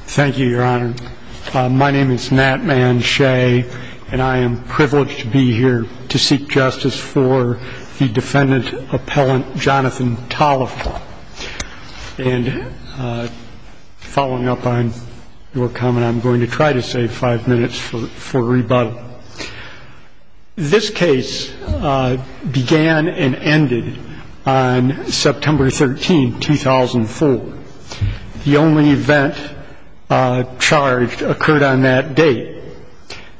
Thank you, your honor. My name is Nat Man Shea, and I am privileged to be here to seek justice for the defendant-appellant Jonathan Toliver. And following up on your comment, I'm going to try to save five minutes for rebuttal. This case began and ended on September 13, 2004. The only event charged occurred on that date.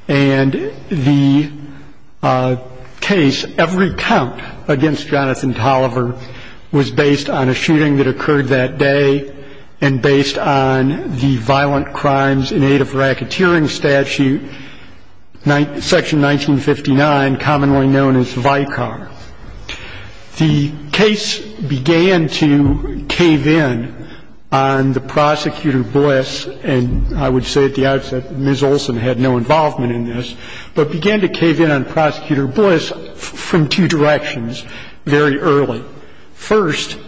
And the case, every count against Jonathan Toliver, was based on a shooting that occurred that day and based on the Violent Crimes in Aid of Racketeering Statute, Section 1959, commonly known as VICAR. The case began to cave in on the prosecutor Bliss, and I would say at the outset that Ms. Olson had no involvement in this, but began to cave in on Prosecutor Bliss from two directions very early. First,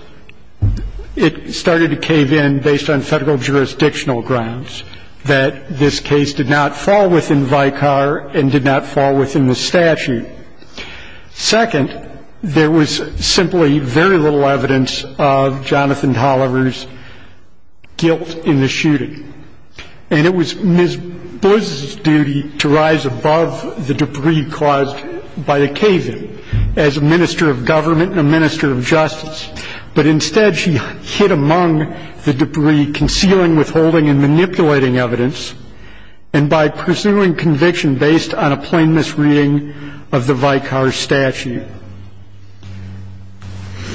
it started to cave in based on federal jurisdictional grounds that this case did not fall within VICAR and did not fall within the statute. Second, there was simply very little evidence of Jonathan Toliver's guilt in the shooting. And it was Ms. Bliss's duty to rise above the debris caused by the cave-in as a minister of government and a minister of justice. But instead, she hid among the debris, concealing, withholding, and manipulating evidence, and by pursuing conviction based on a plain misreading of the VICAR statute. And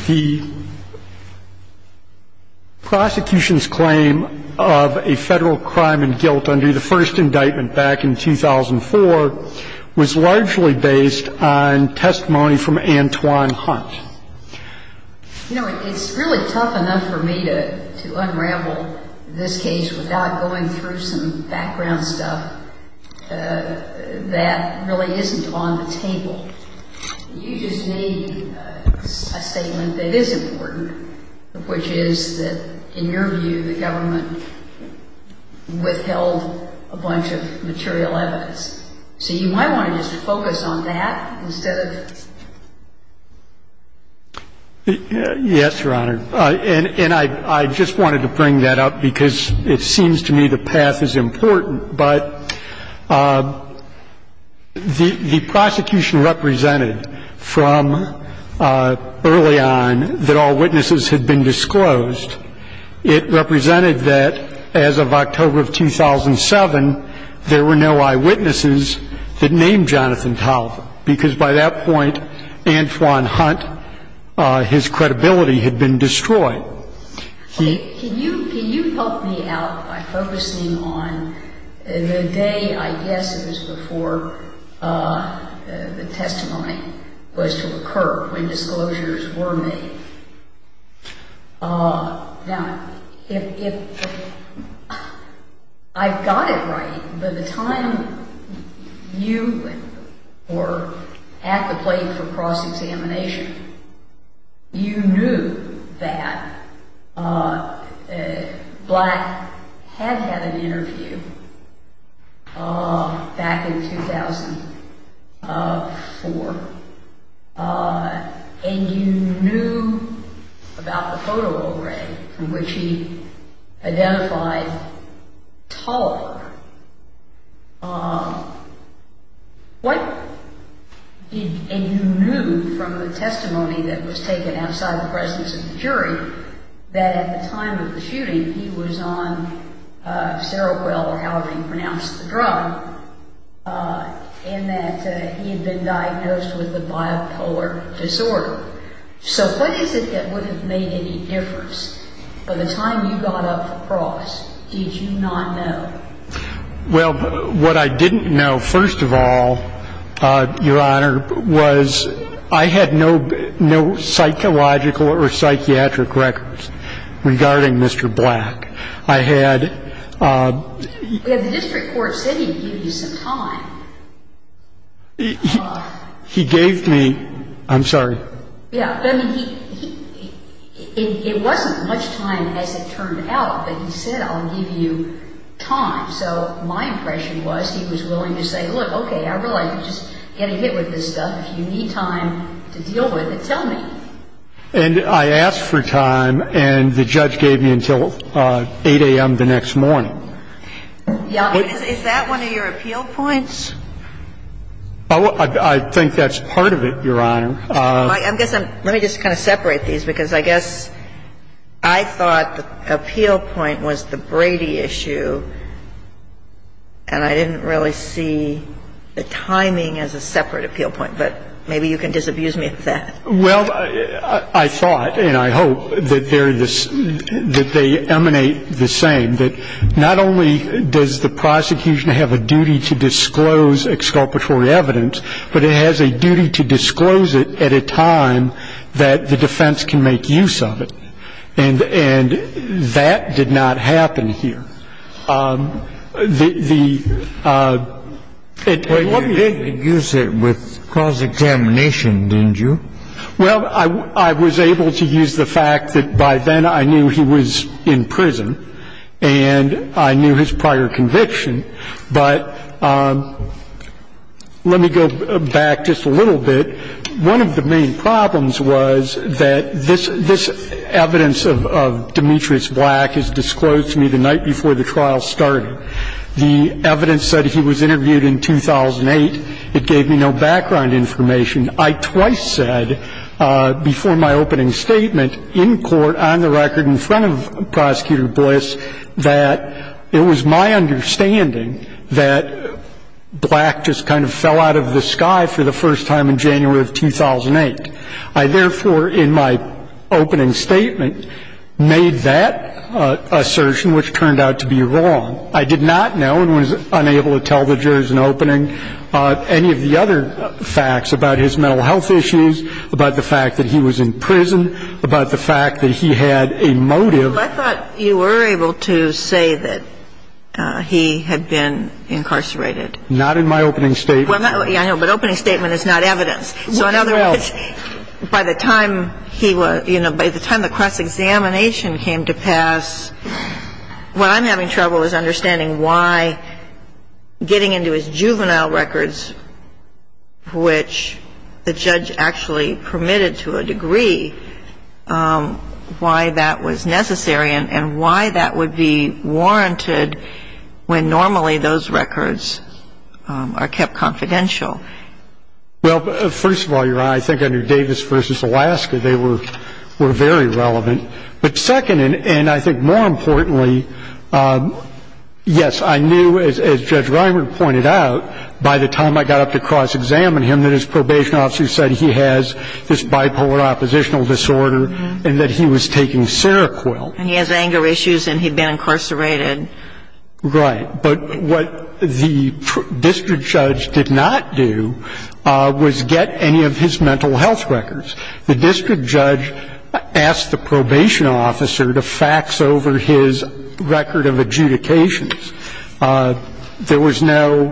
the prosecution's claim of a federal crime and guilt under the first indictment back in 2004 was largely based on testimony from Antoine Hunt. You know, it's really tough enough for me to unravel this case without going through some background stuff that really isn't on the table. You just need a statement that is important, which is that, in your view, the government withheld a bunch of material evidence. So you might want to just focus on that instead of this. Yes, Your Honor. And I just wanted to bring that up because it seems to me the path is important. But the prosecution represented from early on that all witnesses had been disclosed. It represented that as of October of 2007, there were no eyewitnesses that named Jonathan Toliver because by that point, Antoine Hunt, his credibility had been destroyed. Can you help me out by focusing on the day, I guess, it was before the testimony was to occur, when disclosures were made? Now, if I've got it right, by the time you were at the plate for cross-examination, you knew that Black had had an interview back in 2004, and you knew about the photo array from which he identified Toliver. And you knew from the testimony that was taken outside the presence of the jury that at the time of the shooting, he was on Seroquel or however you pronounce the drug, and that he had been diagnosed with a bipolar disorder. So what is it that would have made any difference? By the time you got up for cross, did you not know? Well, what I didn't know, first of all, Your Honor, was I had no psychological or psychiatric records regarding Mr. Black. I had... The district court said he gave you some time. He gave me... I'm sorry. Yeah. I mean, it wasn't much time as it turned out, but he said, I'll give you time. So my impression was he was willing to say, look, okay, I realize you're just getting hit with this stuff. If you need time to deal with it, tell me. And I asked for time, and the judge gave me until 8 a.m. the next morning. Is that one of your appeal points? I think that's part of it, Your Honor. Let me just kind of separate these, because I guess I thought the appeal point was the Brady issue, and I didn't really see the timing as a separate appeal point. But maybe you can disabuse me of that. Well, I thought, and I hope, that they emanate the same, that not only does the prosecution have a duty to disclose exculpatory evidence, but it has a duty to disclose it at a time that the defense can make use of it. And that did not happen here. You did use it with cross-examination, didn't you? Well, I was able to use the fact that by then I knew he was in prison and I knew his prior conviction. But let me go back just a little bit. One of the main problems was that this evidence of Demetrius Black is disclosed to me the night before the trial started. The evidence said he was interviewed in 2008. It gave me no background information. I twice said before my opening statement in court, on the record in front of Prosecutor Bliss, that it was my understanding that Black just kind of fell out of the sky for the first time in January of 2008. I, therefore, in my opening statement, made that assertion, which turned out to be wrong. I did not know and was unable to tell the jurors in opening any of the other facts about his mental health issues, about the fact that he was in prison, about the fact that he had a motive. I thought you were able to say that he had been incarcerated. Not in my opening statement. I know, but opening statement is not evidence. So in other words, by the time he was, you know, by the time the cross-examination came to pass, what I'm having trouble is understanding why getting into his juvenile records, which the judge actually permitted to a degree, why that was necessary and why that would be warranted when normally those records are kept confidential. Well, first of all, Your Honor, I think under Davis v. Alaska, they were very relevant. But second, and I think more importantly, yes, I knew, as Judge Reimer pointed out, by the time I got up to cross-examine him, that his probation officer said he has this bipolar oppositional disorder and that he was taking Seroquel. And he has anger issues and he'd been incarcerated. Right. But what the district judge did not do was get any of his mental health records. The district judge asked the probation officer to fax over his record of adjudications. There was no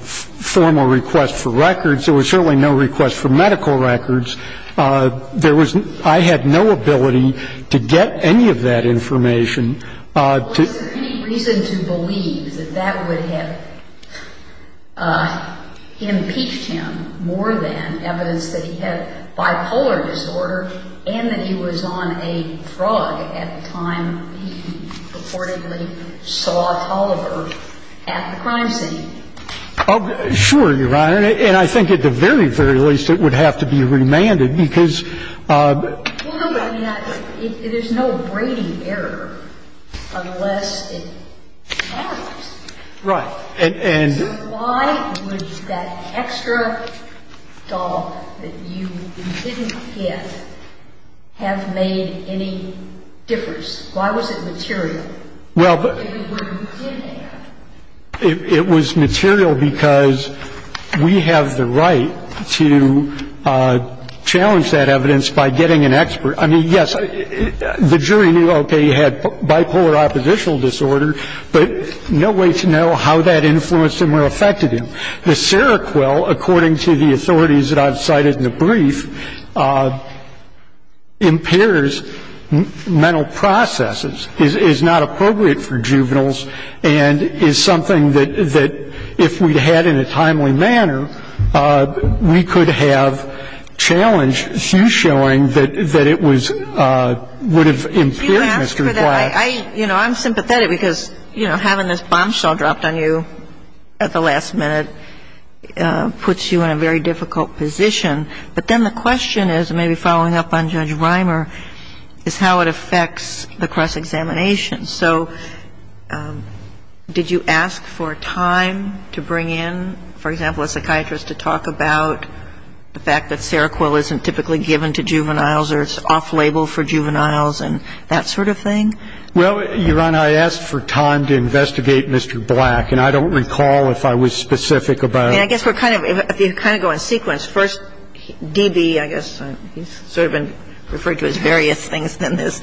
formal request for records. There was certainly no request for medical records. There was no – I had no ability to get any of that information. Was there any reason to believe that that would have impeached him more than evidence that he had bipolar disorder and that he was on a drug at the time he reportedly saw Holliver at the crime scene? Sure, Your Honor. And I think at the very, very least, it would have to be remanded because – Well, no, but there's no braiding error unless it happens. Right. Why would that extra dog that you didn't get have made any difference? Why was it material? Well, but – If it were, you didn't have. It was material because we have the right to challenge that evidence by getting an expert. I mean, yes, the jury knew, okay, he had bipolar oppositional disorder, but no way to know how that influenced him or affected him. The Seroquel, according to the authorities that I've cited in the brief, impairs mental processes, is not appropriate for juveniles, and is something that if we'd had in a timely manner, we could have challenged Hugh's showing that it was – would have impaired Mr. Black. I – you know, I'm sympathetic because, you know, having this bombshell dropped on you at the last minute puts you in a very difficult position. But then the question is, and maybe following up on Judge Reimer, is how it affects the cross-examination. So did you ask for time to bring in, for example, a psychiatrist to talk about the fact that Well, Your Honor, I asked for time to investigate Mr. Black, and I don't recall if I was specific about it. I mean, I guess we're kind of – if you kind of go in sequence, first D.B., I guess, he's sort of been referred to as various things than this,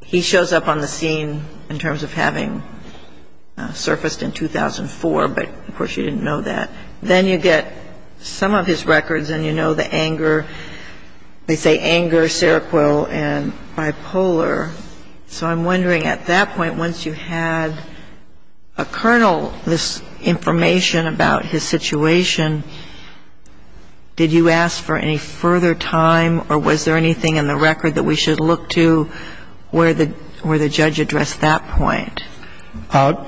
he shows up on the scene in terms of having surfaced in 2004, but of course you didn't know that. Then you get some of his records, and you know the anger – they say anger, Seroquel, and bipolar. So I'm wondering, at that point, once you had a colonel, this information about his situation, did you ask for any further time, or was there anything in the record that we should look to where the judge addressed that point?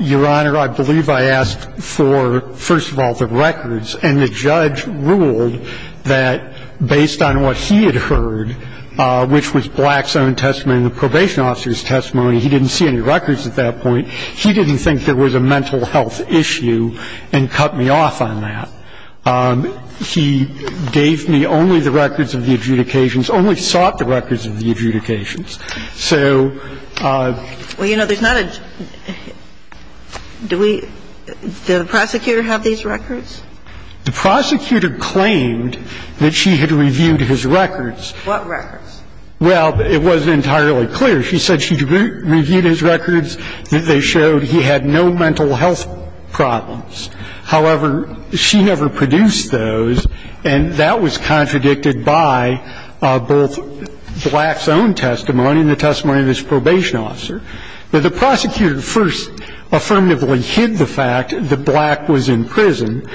Your Honor, I believe I asked for, first of all, the records. And the judge ruled that based on what he had heard, which was Black's own testimony and the probation officer's testimony, he didn't see any records at that point. He didn't think there was a mental health issue and cut me off on that. He gave me only the records of the adjudications, only sought the records of the adjudications. I'm not saying that the judge should have been more involved in the adjudications. So the judge, I think, had no interest in the adjudications. So… Well, you know, there's not a – do we – does the prosecutor have these records? The prosecutor claimed that she had reviewed his records. What records? Well, it wasn't entirely clear. She said she'd reviewed his records. They showed he had no mental health problems. However, she never produced those, and that was contradicted by both Black's own testimony and the testimony of his probation officer. But the prosecutor first affirmatively hid the fact that Black was in prison,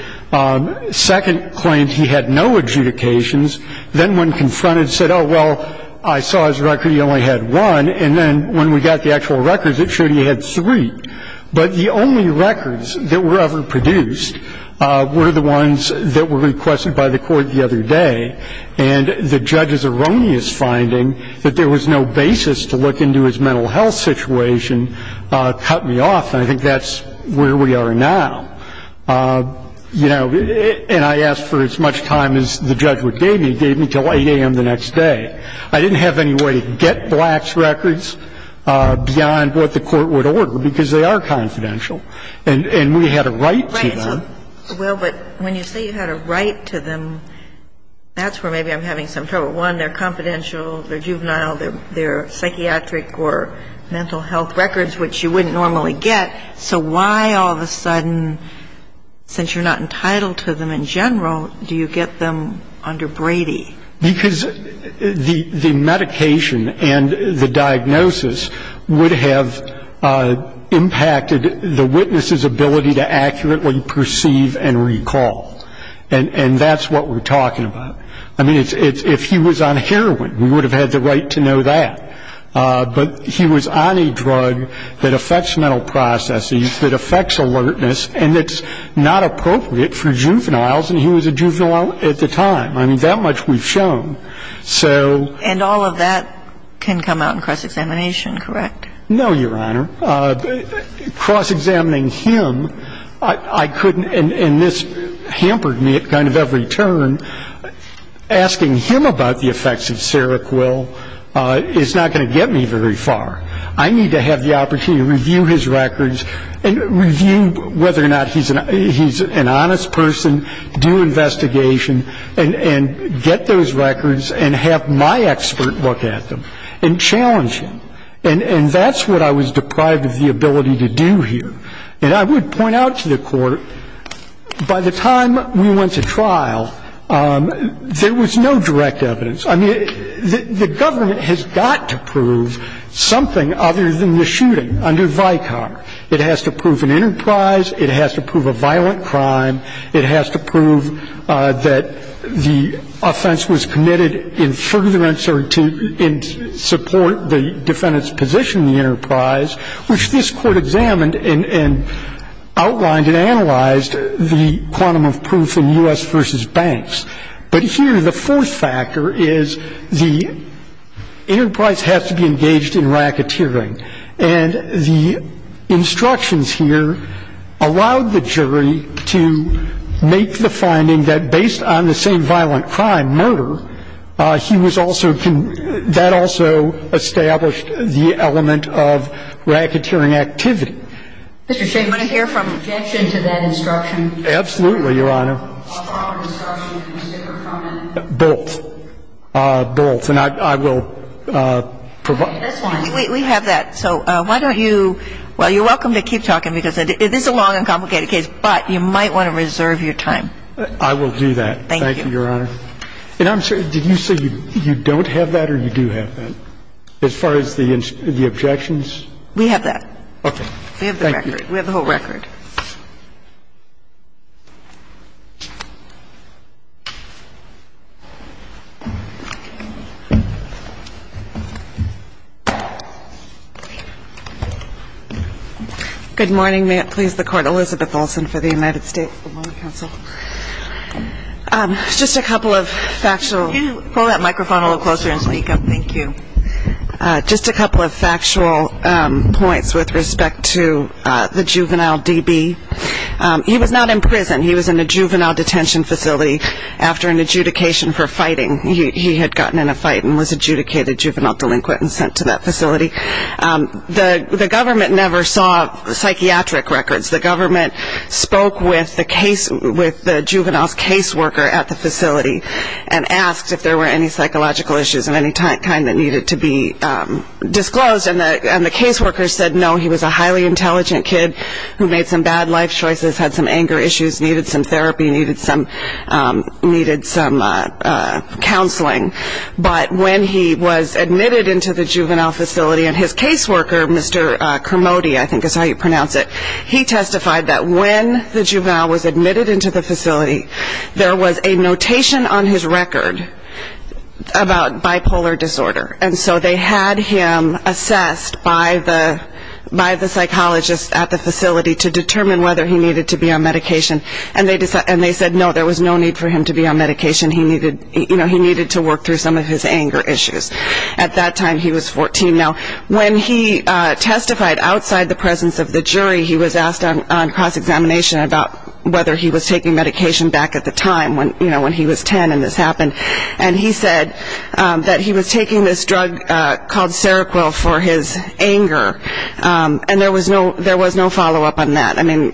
second claimed he had no adjudications. Then when confronted, said, oh, well, I saw his record. He only had one. And then when we got the actual records, it showed he had three. But the only records that were ever produced were the ones that were requested by the court the other day. And the judge's erroneous finding that there was no basis to look into his mental health situation cut me off. And I think that's where we are now. And I asked for as much time as the judge would give me. He gave me until 8 a.m. the next day. I didn't have any way to get Black's records beyond what the court would order, because they are confidential. And we had a right to them. Right. Well, but when you say you had a right to them, that's where maybe I'm having some trouble. One, they're confidential, they're juvenile, they're psychiatric or mental health records, which you wouldn't normally get. So why all of a sudden, since you're not entitled to them in general, do you get them under Brady? Because the medication and the diagnosis would have impacted the witness's ability to accurately perceive and recall. And that's what we're talking about. I mean, if he was on heroin, we would have had the right to know that. But he was on a drug that affects mental processes, that affects alertness, and that's not appropriate for juveniles, and he was a juvenile at the time. I mean, that much we've shown. And all of that can come out in cross-examination, correct? No, Your Honor. Cross-examining him, I couldn't, and this hampered me at kind of every turn, asking him about the effects of Seroquel is not going to get me very far. I need to have the opportunity to review his records and review whether or not he's an honest person, do investigation and get those records and have my expert look at them and challenge him. And that's what I was deprived of the ability to do here. And I would point out to the Court, by the time we went to trial, there was no direct evidence. I mean, the government has got to prove something other than the shooting under VICOC. It has to prove an enterprise. It has to prove a violent crime. It has to prove that the offense was committed in further uncertainty and support the defendant's position in the enterprise, which this Court examined and outlined and analyzed the quantum of proof in U.S. v. Banks. But here the fourth factor is the enterprise has to be engaged in racketeering. And the instructions here allowed the jury to make the finding that based on the same violent crime, murder, he was also, that also established the element of racketeering activity. Mr. Shane, I want to hear from you. Objection to that instruction. Absolutely, Your Honor. I'll follow the instruction. Can you take a comment? Both. Both. And I will provide. We have that. So why don't you, well, you're welcome to keep talking because this is a long and complicated case, but you might want to reserve your time. I will do that. Thank you. Thank you, Your Honor. And I'm sorry. Did you say you don't have that or you do have that as far as the objections? We have that. Okay. Thank you. We have the record. We have the whole record. Good morning. May it please the Court. Elizabeth Olsen for the United States Bailiwick Council. Just a couple of factual. Can you pull that microphone a little closer and speak up? Thank you. Just a couple of factual points with respect to the juvenile DB. He was not in prison. He was in a juvenile detention facility after an adjudication for fighting. He had gotten in a fight and was adjudicated juvenile delinquent and sent to that facility. The government never saw psychiatric records. The government spoke with the juvenile's caseworker at the facility and asked if there were any psychological issues of any kind that needed to be disclosed. And the caseworker said no. He was a highly intelligent kid who made some bad life choices, had some anger issues, needed some therapy, needed some counseling. But when he was admitted into the juvenile facility and his caseworker, Mr. Kermode, I think is how you pronounce it, he testified that when the juvenile was admitted into the facility, there was a notation on his record about bipolar disorder. And so they had him assessed by the psychologist at the facility to determine whether he needed to be on medication. And they said no, there was no need for him to be on medication. He needed to work through some of his anger issues. At that time he was 14. Now, when he testified outside the presence of the jury, he was asked on cross-examination about whether he was taking medication back at the time, when he was 10 and this happened. And he said that he was taking this drug called Seroquel for his anger. And there was no follow-up on that. I mean,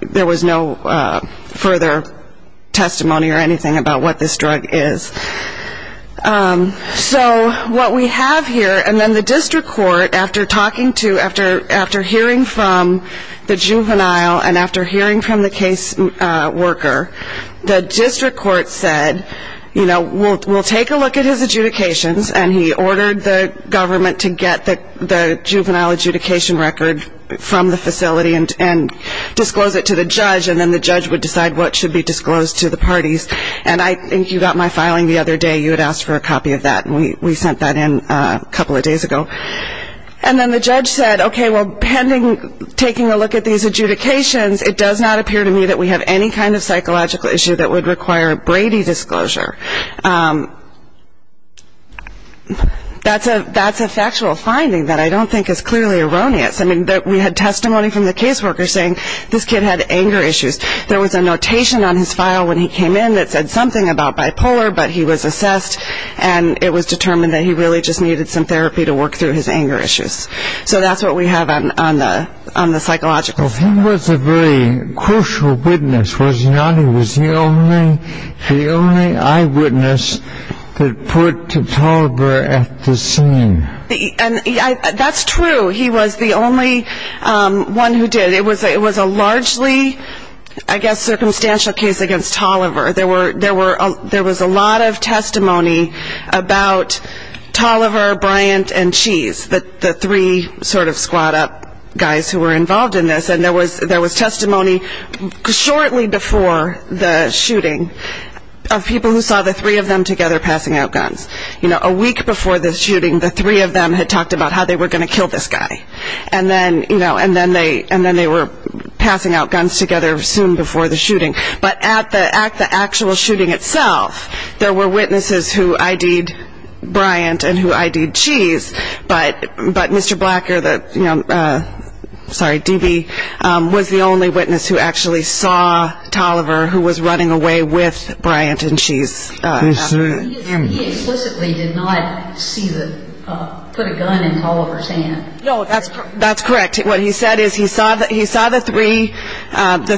there was no further testimony or anything about what this drug is. So what we have here, and then the district court, after hearing from the juvenile and after hearing from the caseworker, the district court said, you know, we'll take a look at his adjudications. And he ordered the government to get the juvenile adjudication record from the facility and disclose it to the judge, and then the judge would decide what should be disclosed to the parties. And I think you got my filing the other day. You had asked for a copy of that, and we sent that in a couple of days ago. And then the judge said, okay, well, pending taking a look at these adjudications, it does not appear to me that we have any kind of psychological issue that would require Brady disclosure. That's a factual finding that I don't think is clearly erroneous. I mean, we had testimony from the caseworker saying this kid had anger issues. There was a notation on his file when he came in that said something about bipolar, but he was assessed, and it was determined that he really just needed some therapy to work through his anger issues. So that's what we have on the psychological. Well, he was a very crucial witness, was he not? He was the only eyewitness that put Tutalibar at the scene. And that's true. He was the only one who did. It was a largely, I guess, circumstantial case against Tolliver. There was a lot of testimony about Tolliver, Bryant, and Cheese, the three sort of squad up guys who were involved in this. And there was testimony shortly before the shooting of people who saw the three of them together passing out guns. You know, a week before the shooting, the three of them had talked about how they were going to kill this guy. And then they were passing out guns together soon before the shooting. But at the actual shooting itself, there were witnesses who ID'd Bryant and who ID'd Cheese, but Mr. Blacker, sorry, DB, was the only witness who actually saw Tolliver, who was running away with Bryant and Cheese. He explicitly did not put a gun in Tolliver's hand. No, that's correct. What he said is he saw the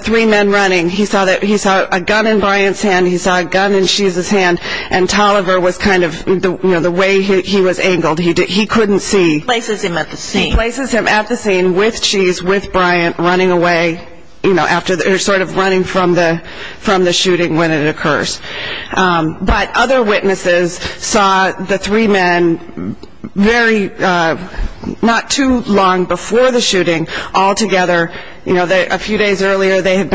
three men running. He saw a gun in Bryant's hand. He saw a gun in Cheese's hand. And Tolliver was kind of, you know, the way he was angled. He couldn't see. He places him at the scene. He places him at the scene with Cheese, with Bryant, running away, you know, sort of running from the shooting when it occurs. But other witnesses saw the three men very not too long before the shooting all together. You know, a few days earlier, they had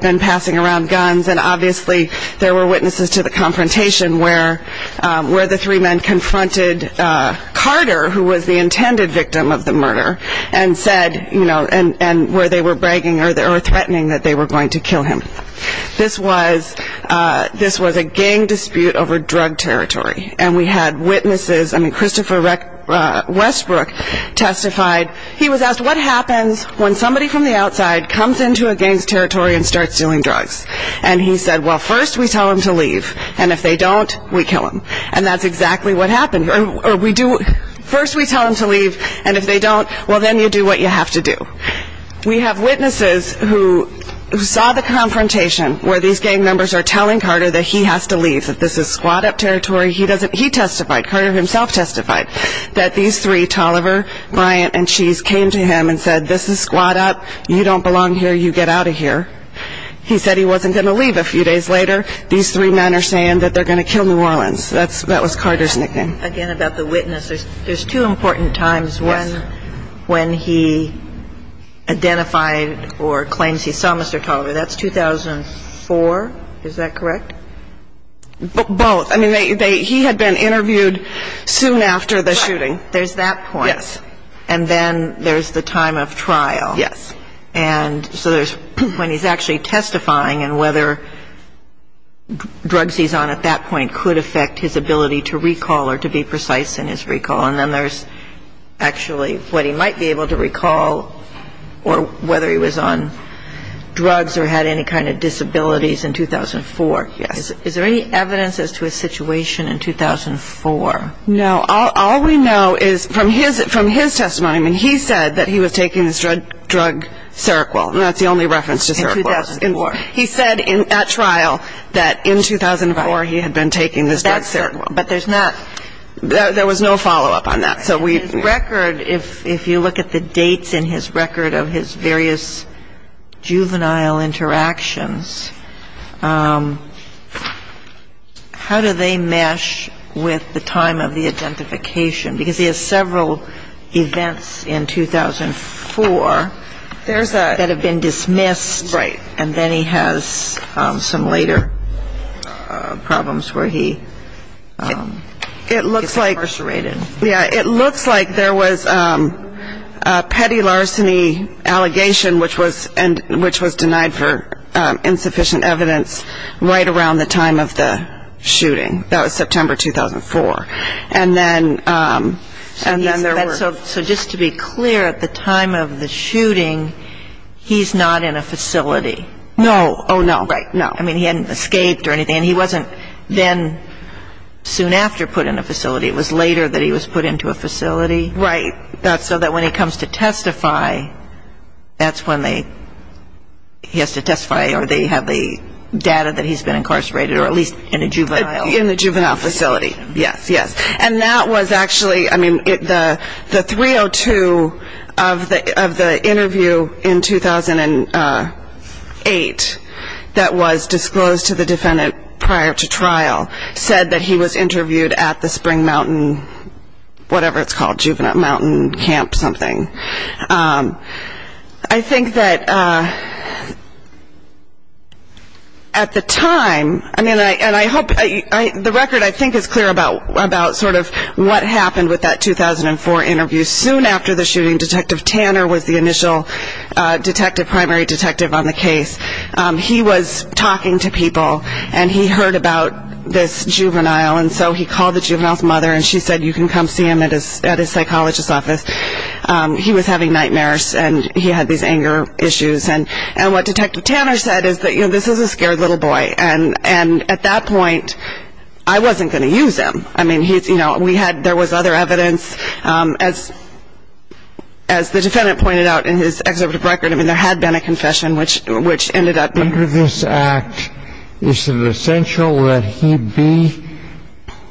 been passing around guns, and obviously there were witnesses to the confrontation where the three men confronted Carter, who was the intended victim of the murder, and said, you know, and where they were bragging or threatening that they were going to kill him. This was a gang dispute over drug territory, and we had witnesses. I mean, Christopher Westbrook testified. He was asked, what happens when somebody from the outside comes into a gang's territory and starts doing drugs? And he said, well, first we tell them to leave, and if they don't, we kill them. And that's exactly what happened. First we tell them to leave, and if they don't, well, then you do what you have to do. We have witnesses who saw the confrontation where these gang members are telling Carter that he has to leave, that this is squat-up territory. He testified. Carter himself testified that these three, Tolliver, Bryant, and Cheese, came to him and said, this is squat-up. You don't belong here. You get out of here. He said he wasn't going to leave. A few days later, these three men are saying that they're going to kill New Orleans. That was Carter's nickname. Again, about the witnesses, there's two important times when he identified or claims he saw Mr. Tolliver. That's 2004. Is that correct? Both. I mean, he had been interviewed soon after the shooting. Right. There's that point. Yes. And then there's the time of trial. Yes. And so there's when he's actually testifying, and whether drugs he's on at that point could affect his ability to recall or to be precise in his recall. And then there's actually what he might be able to recall or whether he was on drugs or had any kind of disabilities in 2004. Yes. Is there any evidence as to his situation in 2004? No. All we know is from his testimony, I mean, he said that he was taking this drug Seroquel. And that's the only reference to Seroquel. He said at trial that in 2004 he had been taking this drug Seroquel. But there's not — There was no follow-up on that. His record, if you look at the dates in his record of his various juvenile interactions, how do they mesh with the time of the identification? Because he has several events in 2004 that have been dismissed. Right. And then he has some later problems where he is incarcerated. It looks like there was a petty larceny allegation, which was denied for insufficient evidence right around the time of the shooting. That was September 2004. So just to be clear, at the time of the shooting, he's not in a facility. No. Oh, no. Right. No. I mean, he hadn't escaped or anything. And he wasn't then soon after put in a facility. It was later that he was put into a facility. Right. So that when he comes to testify, that's when they — he has to testify or they have the data that he's been incarcerated or at least in a juvenile facility. In the juvenile facility. Yes. Yes. And that was actually — I mean, the 302 of the interview in 2008 that was disclosed to the defendant prior to trial said that he was interviewed at the Spring Mountain, whatever it's called, Juvenile Mountain Camp something. I think that at the time — I mean, and I hope — the record, I think, is clear about sort of what happened with that 2004 interview. Soon after the shooting, Detective Tanner was the initial detective, primary detective on the case. He was talking to people, and he heard about this juvenile. And so he called the juvenile's mother, and she said, you can come see him at his psychologist's office. He was having nightmares, and he had these anger issues. And what Detective Tanner said is that, you know, this is a scared little boy. And at that point, I wasn't going to use him. I mean, he's — you know, we had — there was other evidence. As the defendant pointed out in his executive record, I mean, there had been a confession, which ended up — Under this act, is it essential that he be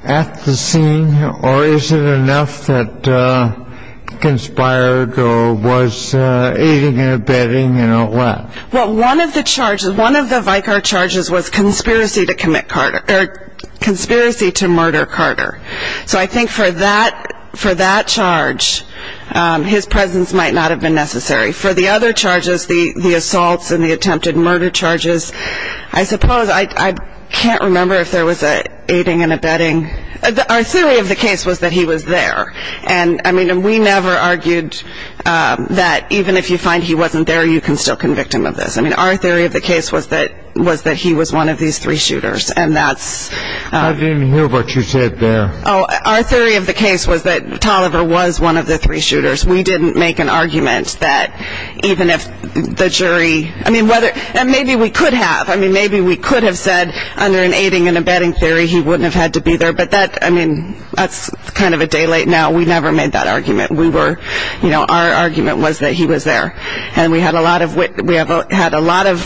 at the scene, or is it enough that he conspired or was aiding and abetting and all that? Well, one of the charges, one of the Vicar charges was conspiracy to murder Carter. So I think for that charge, his presence might not have been necessary. For the other charges, the assaults and the attempted murder charges, I suppose I can't remember if there was aiding and abetting. Our theory of the case was that he was there. And, I mean, we never argued that even if you find he wasn't there, you can still convict him of this. I mean, our theory of the case was that he was one of these three shooters, and that's — I didn't hear what you said there. Oh, our theory of the case was that Tolliver was one of the three shooters. We didn't make an argument that even if the jury — I mean, whether — and maybe we could have. I mean, maybe we could have said under an aiding and abetting theory he wouldn't have had to be there. But that — I mean, that's kind of a day late now. We never made that argument. We were — you know, our argument was that he was there. And we had a lot of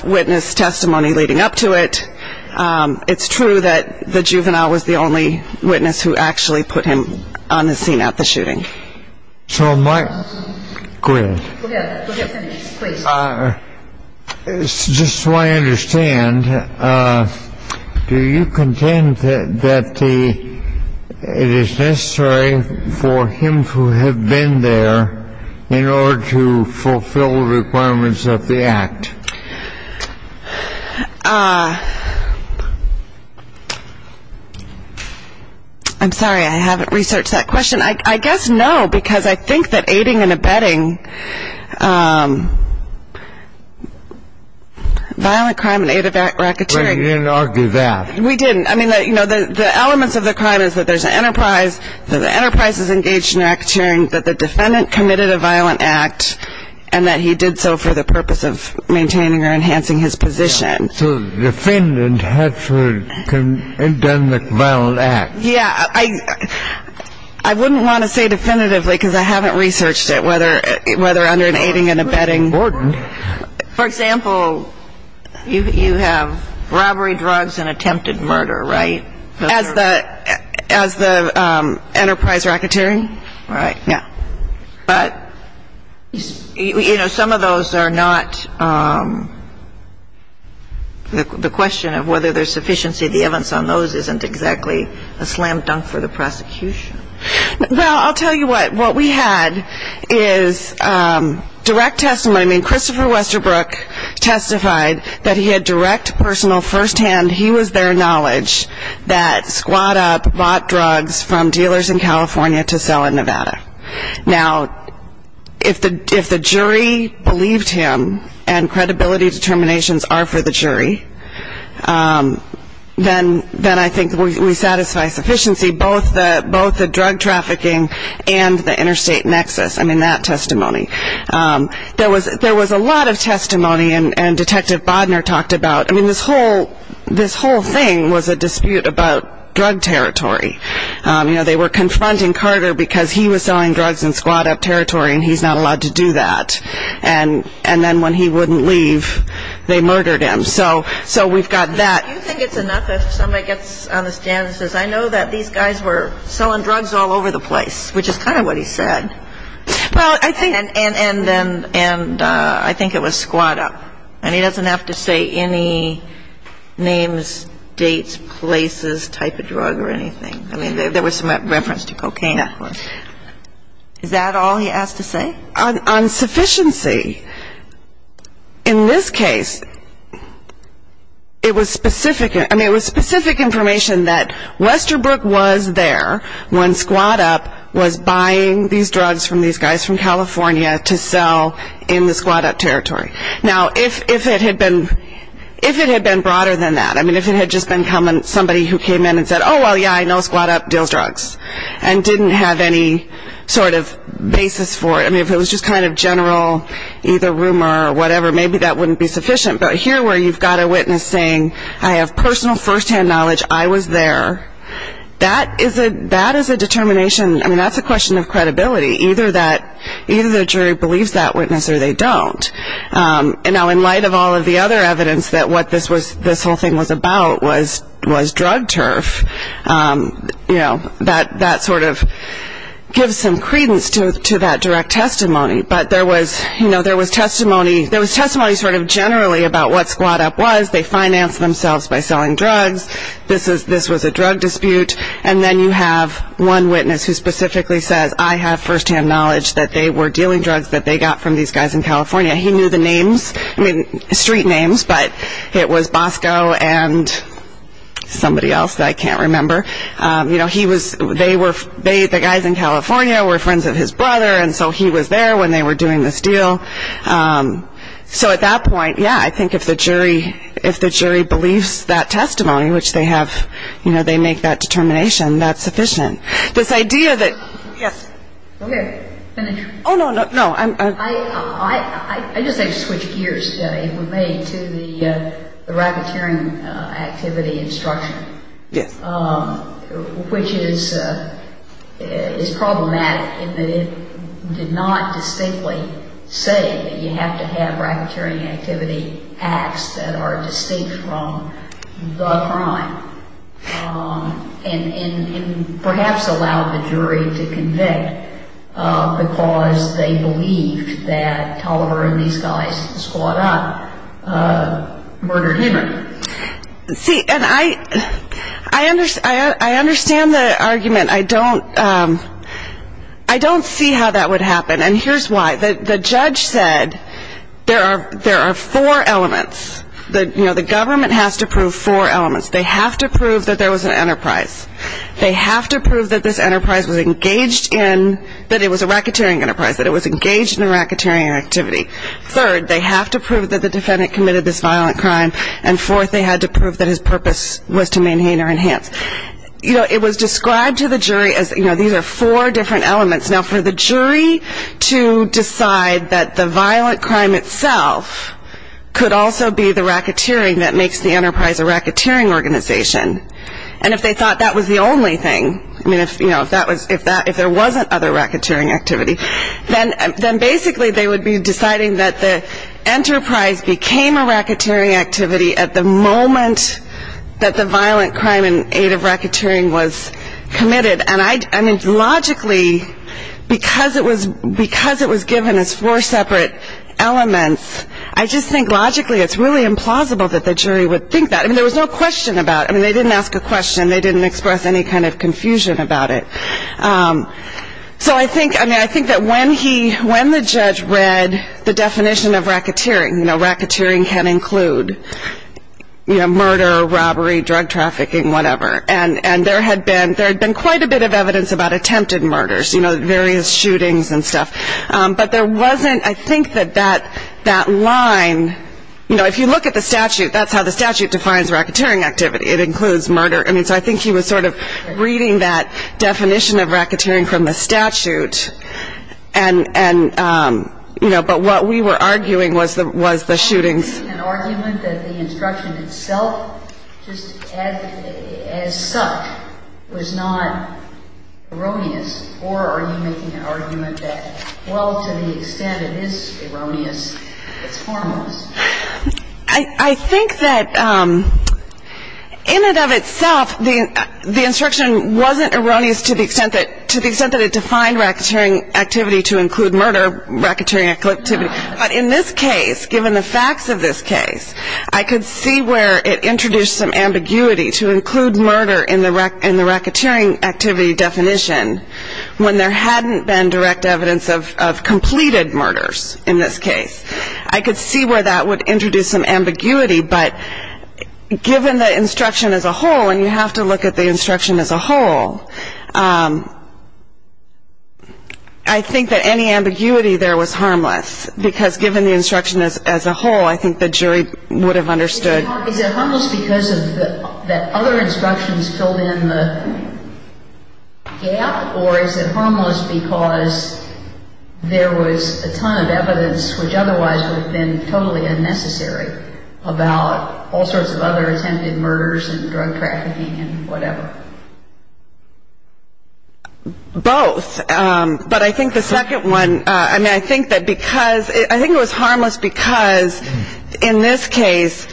witness testimony leading up to it. It's true that the juvenile was the only witness who actually put him on the scene at the shooting. So my — go ahead. Go ahead. Go ahead, please. Just so I understand, do you contend that the — it is necessary for him to have been there in order to fulfill the requirements of the act? I'm sorry. I haven't researched that question. I guess no, because I think that aiding and abetting violent crime in aid of racketeering — But you didn't argue that. We didn't. I mean, you know, the elements of the crime is that there's an enterprise, that the enterprise is engaged in racketeering, that the defendant committed a violent act, and that he did so for the purpose of maintaining or enhancing his position. So the defendant has to have done the violent act. Yeah. I wouldn't want to say definitively, because I haven't researched it, whether under an aiding and abetting. Gordon. For example, you have robbery, drugs, and attempted murder, right? As the enterprise racketeering? Right. Yeah. But, you know, some of those are not — The question of whether there's sufficiency of the evidence on those isn't exactly a slam dunk for the prosecution. Well, I'll tell you what. What we had is direct testimony. I mean, Christopher Westerbrook testified that he had direct, personal, first-hand — he was there knowledge — that Squad Up bought drugs from dealers in California to sell in Nevada. Now, if the jury believed him, and credibility determinations are for the jury, then I think we satisfy sufficiency, both the drug trafficking and the interstate nexus. I mean, that testimony. There was a lot of testimony, and Detective Bodner talked about — I mean, this whole thing was a dispute about drug territory. You know, they were confronting Carter because he was selling drugs in Squad Up territory, and he's not allowed to do that. And then when he wouldn't leave, they murdered him. So we've got that. Do you think it's enough if somebody gets on the stand and says, I know that these guys were selling drugs all over the place, which is kind of what he said. Well, I think — And I think it was Squad Up. And he doesn't have to say any names, dates, places, type of drug or anything. I mean, there was some reference to cocaine. Yeah. Is that all he has to say? On sufficiency, in this case, it was specific — I mean, it was specific information that Westerbrook was there when Squad Up was buying these drugs from these guys from California to sell in the Squad Up territory. Now, if it had been broader than that, I mean, if it had just been somebody who came in and said, oh, well, yeah, I know Squad Up deals drugs, and didn't have any sort of basis for it. I mean, if it was just kind of general either rumor or whatever, maybe that wouldn't be sufficient. But here, where you've got a witness saying, I have personal firsthand knowledge, I was there, that is a determination — I mean, that's a question of credibility. Either the jury believes that witness or they don't. And now, in light of all of the other evidence that what this whole thing was about was drug turf, you know, that sort of gives some credence to that direct testimony. But there was testimony sort of generally about what Squad Up was. They financed themselves by selling drugs. This was a drug dispute. And then you have one witness who specifically says, I have firsthand knowledge that they were dealing drugs that they got from these guys in California. He knew the names. I mean, street names, but it was Bosco and somebody else that I can't remember. You know, he was — they were — the guys in California were friends of his brother, and so he was there when they were doing this deal. So at that point, yeah, I think if the jury believes that testimony, which they have — you know, they make that determination, that's sufficient. This idea that — yes. Okay, finish. Oh, no, no, no. I just have to switch gears, Jenny, with me, to the racketeering activity instruction. Yes. Which is problematic in that it did not distinctly say that you have to have racketeering activity acts that are distinct from the crime and perhaps allowed the jury to convict because they believed that Tolliver and these guys in Squad Up murdered Henry. See, and I understand the argument. I don't see how that would happen, and here's why. The judge said there are four elements. You know, the government has to prove four elements. They have to prove that there was an enterprise. They have to prove that this enterprise was engaged in — that it was a racketeering enterprise, that it was engaged in a racketeering activity. Third, they have to prove that the defendant committed this violent crime. And fourth, they had to prove that his purpose was to maintain or enhance. You know, it was described to the jury as, you know, these are four different elements. Now, for the jury to decide that the violent crime itself could also be the racketeering that makes the enterprise a racketeering organization, and if they thought that was the only thing, I mean, you know, if there wasn't other racketeering activity, then basically they would be deciding that the enterprise became a racketeering activity at the moment that the violent crime in aid of racketeering was committed. And I mean, logically, because it was given as four separate elements, I just think logically it's really implausible that the jury would think that. I mean, there was no question about it. I mean, they didn't ask a question. They didn't express any kind of confusion about it. So I think that when the judge read the definition of racketeering, you know, racketeering can include, you know, murder, robbery, drug trafficking, whatever, and there had been quite a bit of evidence about attempted murders, you know, various shootings and stuff. But there wasn't, I think that that line, you know, if you look at the statute, that's how the statute defines racketeering activity. It includes murder. I mean, so I think he was sort of reading that definition of racketeering from the statute. And, you know, but what we were arguing was the shootings. Are you making an argument that the instruction itself just as such was not erroneous, or are you making an argument that, well, to the extent it is erroneous, it's harmless? I think that in and of itself, the instruction wasn't erroneous to the extent that it defined racketeering activity to include murder, racketeering activity. But in this case, given the facts of this case, I could see where it introduced some ambiguity to include murder in the racketeering activity definition when there hadn't been direct evidence of completed murders in this case. I could see where that would introduce some ambiguity. But given the instruction as a whole, and you have to look at the instruction as a whole, I think that any ambiguity there was harmless because given the instruction as a whole, I think the jury would have understood. Is it harmless because of the other instructions filled in the gap, or is it harmless because there was a ton of evidence which otherwise would have been totally unnecessary about all sorts of other attempted murders and drug trafficking and whatever? Both. But I think the second one, I mean, I think that because I think it was harmless because in this case,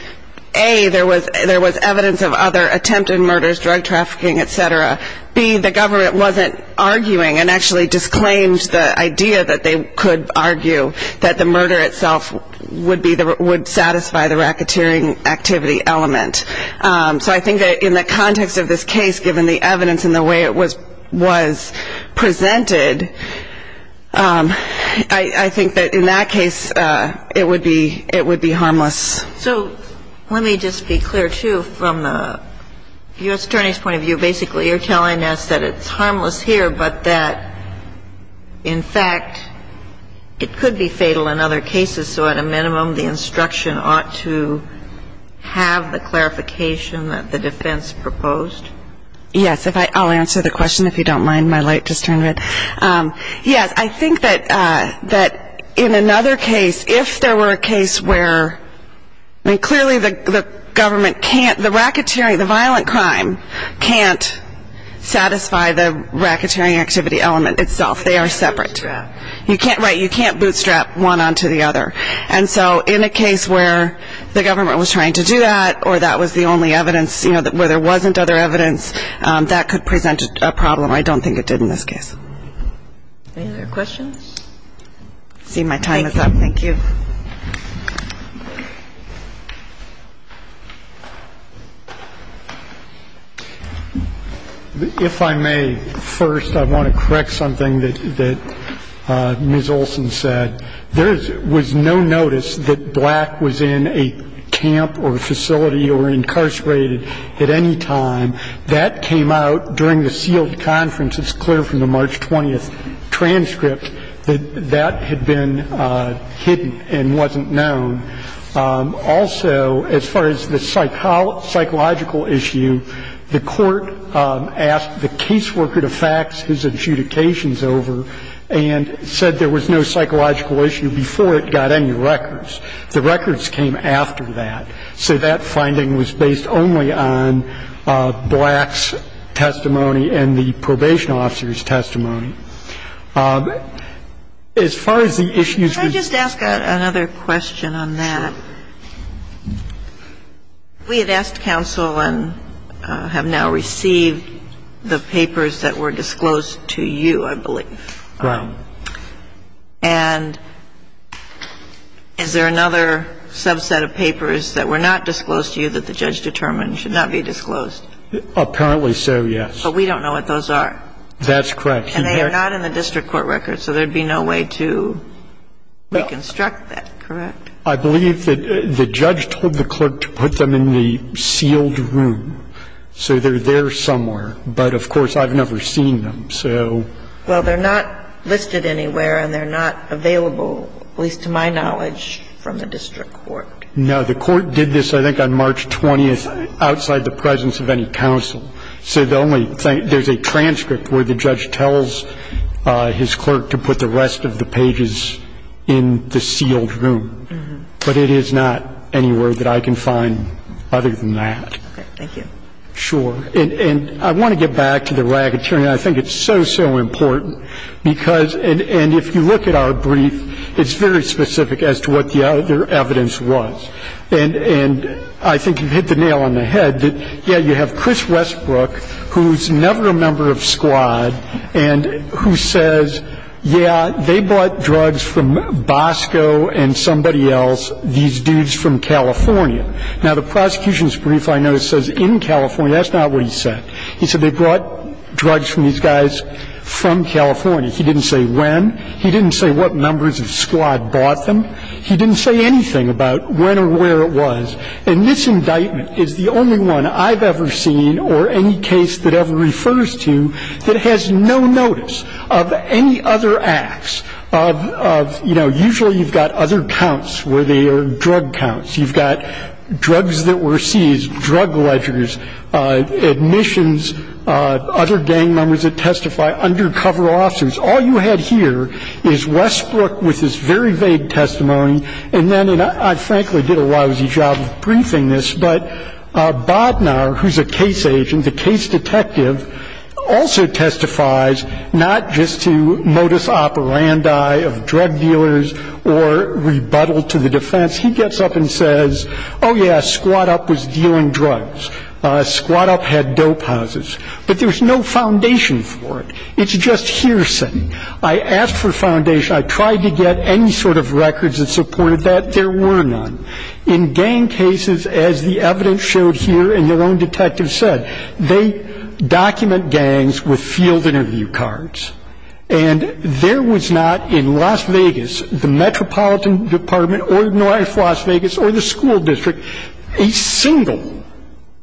A, there was evidence of other attempted murders, drug trafficking, et cetera. B, the government wasn't arguing and actually disclaimed the idea that they could argue that the murder itself would satisfy the racketeering activity element. So I think that in the context of this case, given the evidence and the way it was presented, I think that in that case it would be harmless. So let me just be clear, too. From the U.S. Attorney's point of view, basically you're telling us that it's harmless here, but that in fact it could be fatal in other cases, so at a minimum the instruction ought to have the clarification that the defense proposed? Yes. I'll answer the question if you don't mind. My light just turned red. Yes, I think that in another case, if there were a case where, I mean, clearly the government can't, the racketeering, the violent crime can't satisfy the racketeering activity element itself. They are separate. Bootstrap. Right. You can't bootstrap one onto the other. And so in a case where the government was trying to do that or that was the only evidence where there wasn't other evidence, that could present a problem. I don't think it did in this case. Any other questions? I see my time is up. Thank you. If I may, first I want to correct something that Ms. Olson said. There was no notice that black was in a camp or facility or incarcerated at any time. That came out during the sealed conference. It's clear from the March 20th transcript that that had been hidden and wasn't known. Also, as far as the psychological issue, the court asked the caseworker to fax his adjudications over and said there was no psychological issue before it got any records. The records came after that. So that finding was based only on black's testimony and the probation officer's testimony. As far as the issues with the ---- Could I just ask another question on that? We had asked counsel and have now received the papers that were disclosed to you, I believe. Right. And is there another subset of papers that were not disclosed to you that the judge determined should not be disclosed? Apparently so, yes. But we don't know what those are. That's correct. And they are not in the district court records. So there would be no way to reconstruct that, correct? I believe that the judge told the clerk to put them in the sealed room. So they're there somewhere. But, of course, I've never seen them. Well, they're not listed anywhere and they're not available, at least to my knowledge, from the district court. No. The court did this, I think, on March 20th outside the presence of any counsel. So the only thing ---- there's a transcript where the judge tells his clerk to put the rest of the pages in the sealed room. But it is not anywhere that I can find other than that. Okay. Thank you. Sure. And I want to get back to the racketeering. I think it's so, so important because ---- and if you look at our brief, it's very specific as to what the other evidence was. And I think you hit the nail on the head that, yeah, you have Chris Westbrook, who's never a member of S.Q.U.A.D. and who says, yeah, they bought drugs from Bosco and somebody else, these dudes from California. Now, the prosecution's brief, I know, says in California. That's not what he said. He said they brought drugs from these guys from California. He didn't say when. He didn't say what numbers of S.Q.U.A.D. bought them. He didn't say anything about when or where it was. And this indictment is the only one I've ever seen or any case that ever refers to that has no notice of any other acts, of, you know, usually you've got other counts where they are drug counts. You've got drugs that were seized, drug ledgers, admissions, other gang members that testify, undercover officers. All you had here is Westbrook with his very vague testimony. And then I frankly did a lousy job of briefing this, but Bodnar, who's a case agent, the case detective, also testifies not just to modus operandi of drug dealers or rebuttal to the defense. He gets up and says, oh, yeah, S.Q.U.A.D. up was dealing drugs. S.Q.U.A.D. up had dope houses. But there's no foundation for it. It's just hearsay. I asked for foundation. I tried to get any sort of records that supported that. There were none. In gang cases, as the evidence showed here and your own detective said, they document gangs with field interview cards. And there was not in Las Vegas, the Metropolitan Department or North Las Vegas or the school district, a single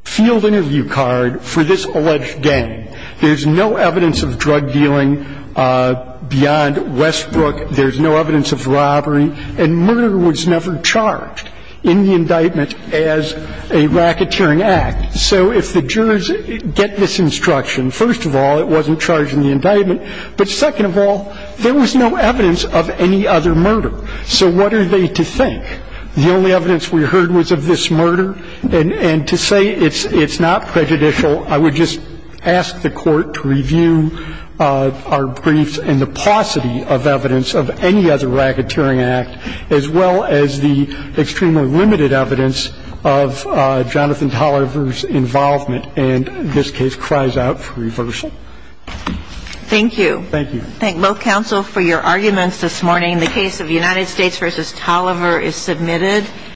field interview card for this alleged gang. There's no evidence of drug dealing beyond Westbrook. There's no evidence of robbery. And murder was never charged in the indictment as a racketeering act. So if the jurors get this instruction, first of all, it wasn't charged in the indictment. But second of all, there was no evidence of any other murder. So what are they to think? The only evidence we heard was of this murder. And to say it's not prejudicial, I would just ask the Court to review our briefs and the paucity of evidence of any other racketeering act, as well as the extremely limited evidence of Jonathan Tolliver's involvement. And this case cries out for reversal. Thank you. Thank you. Thank both counsel for your arguments this morning. The case of United States v. Tolliver is submitted.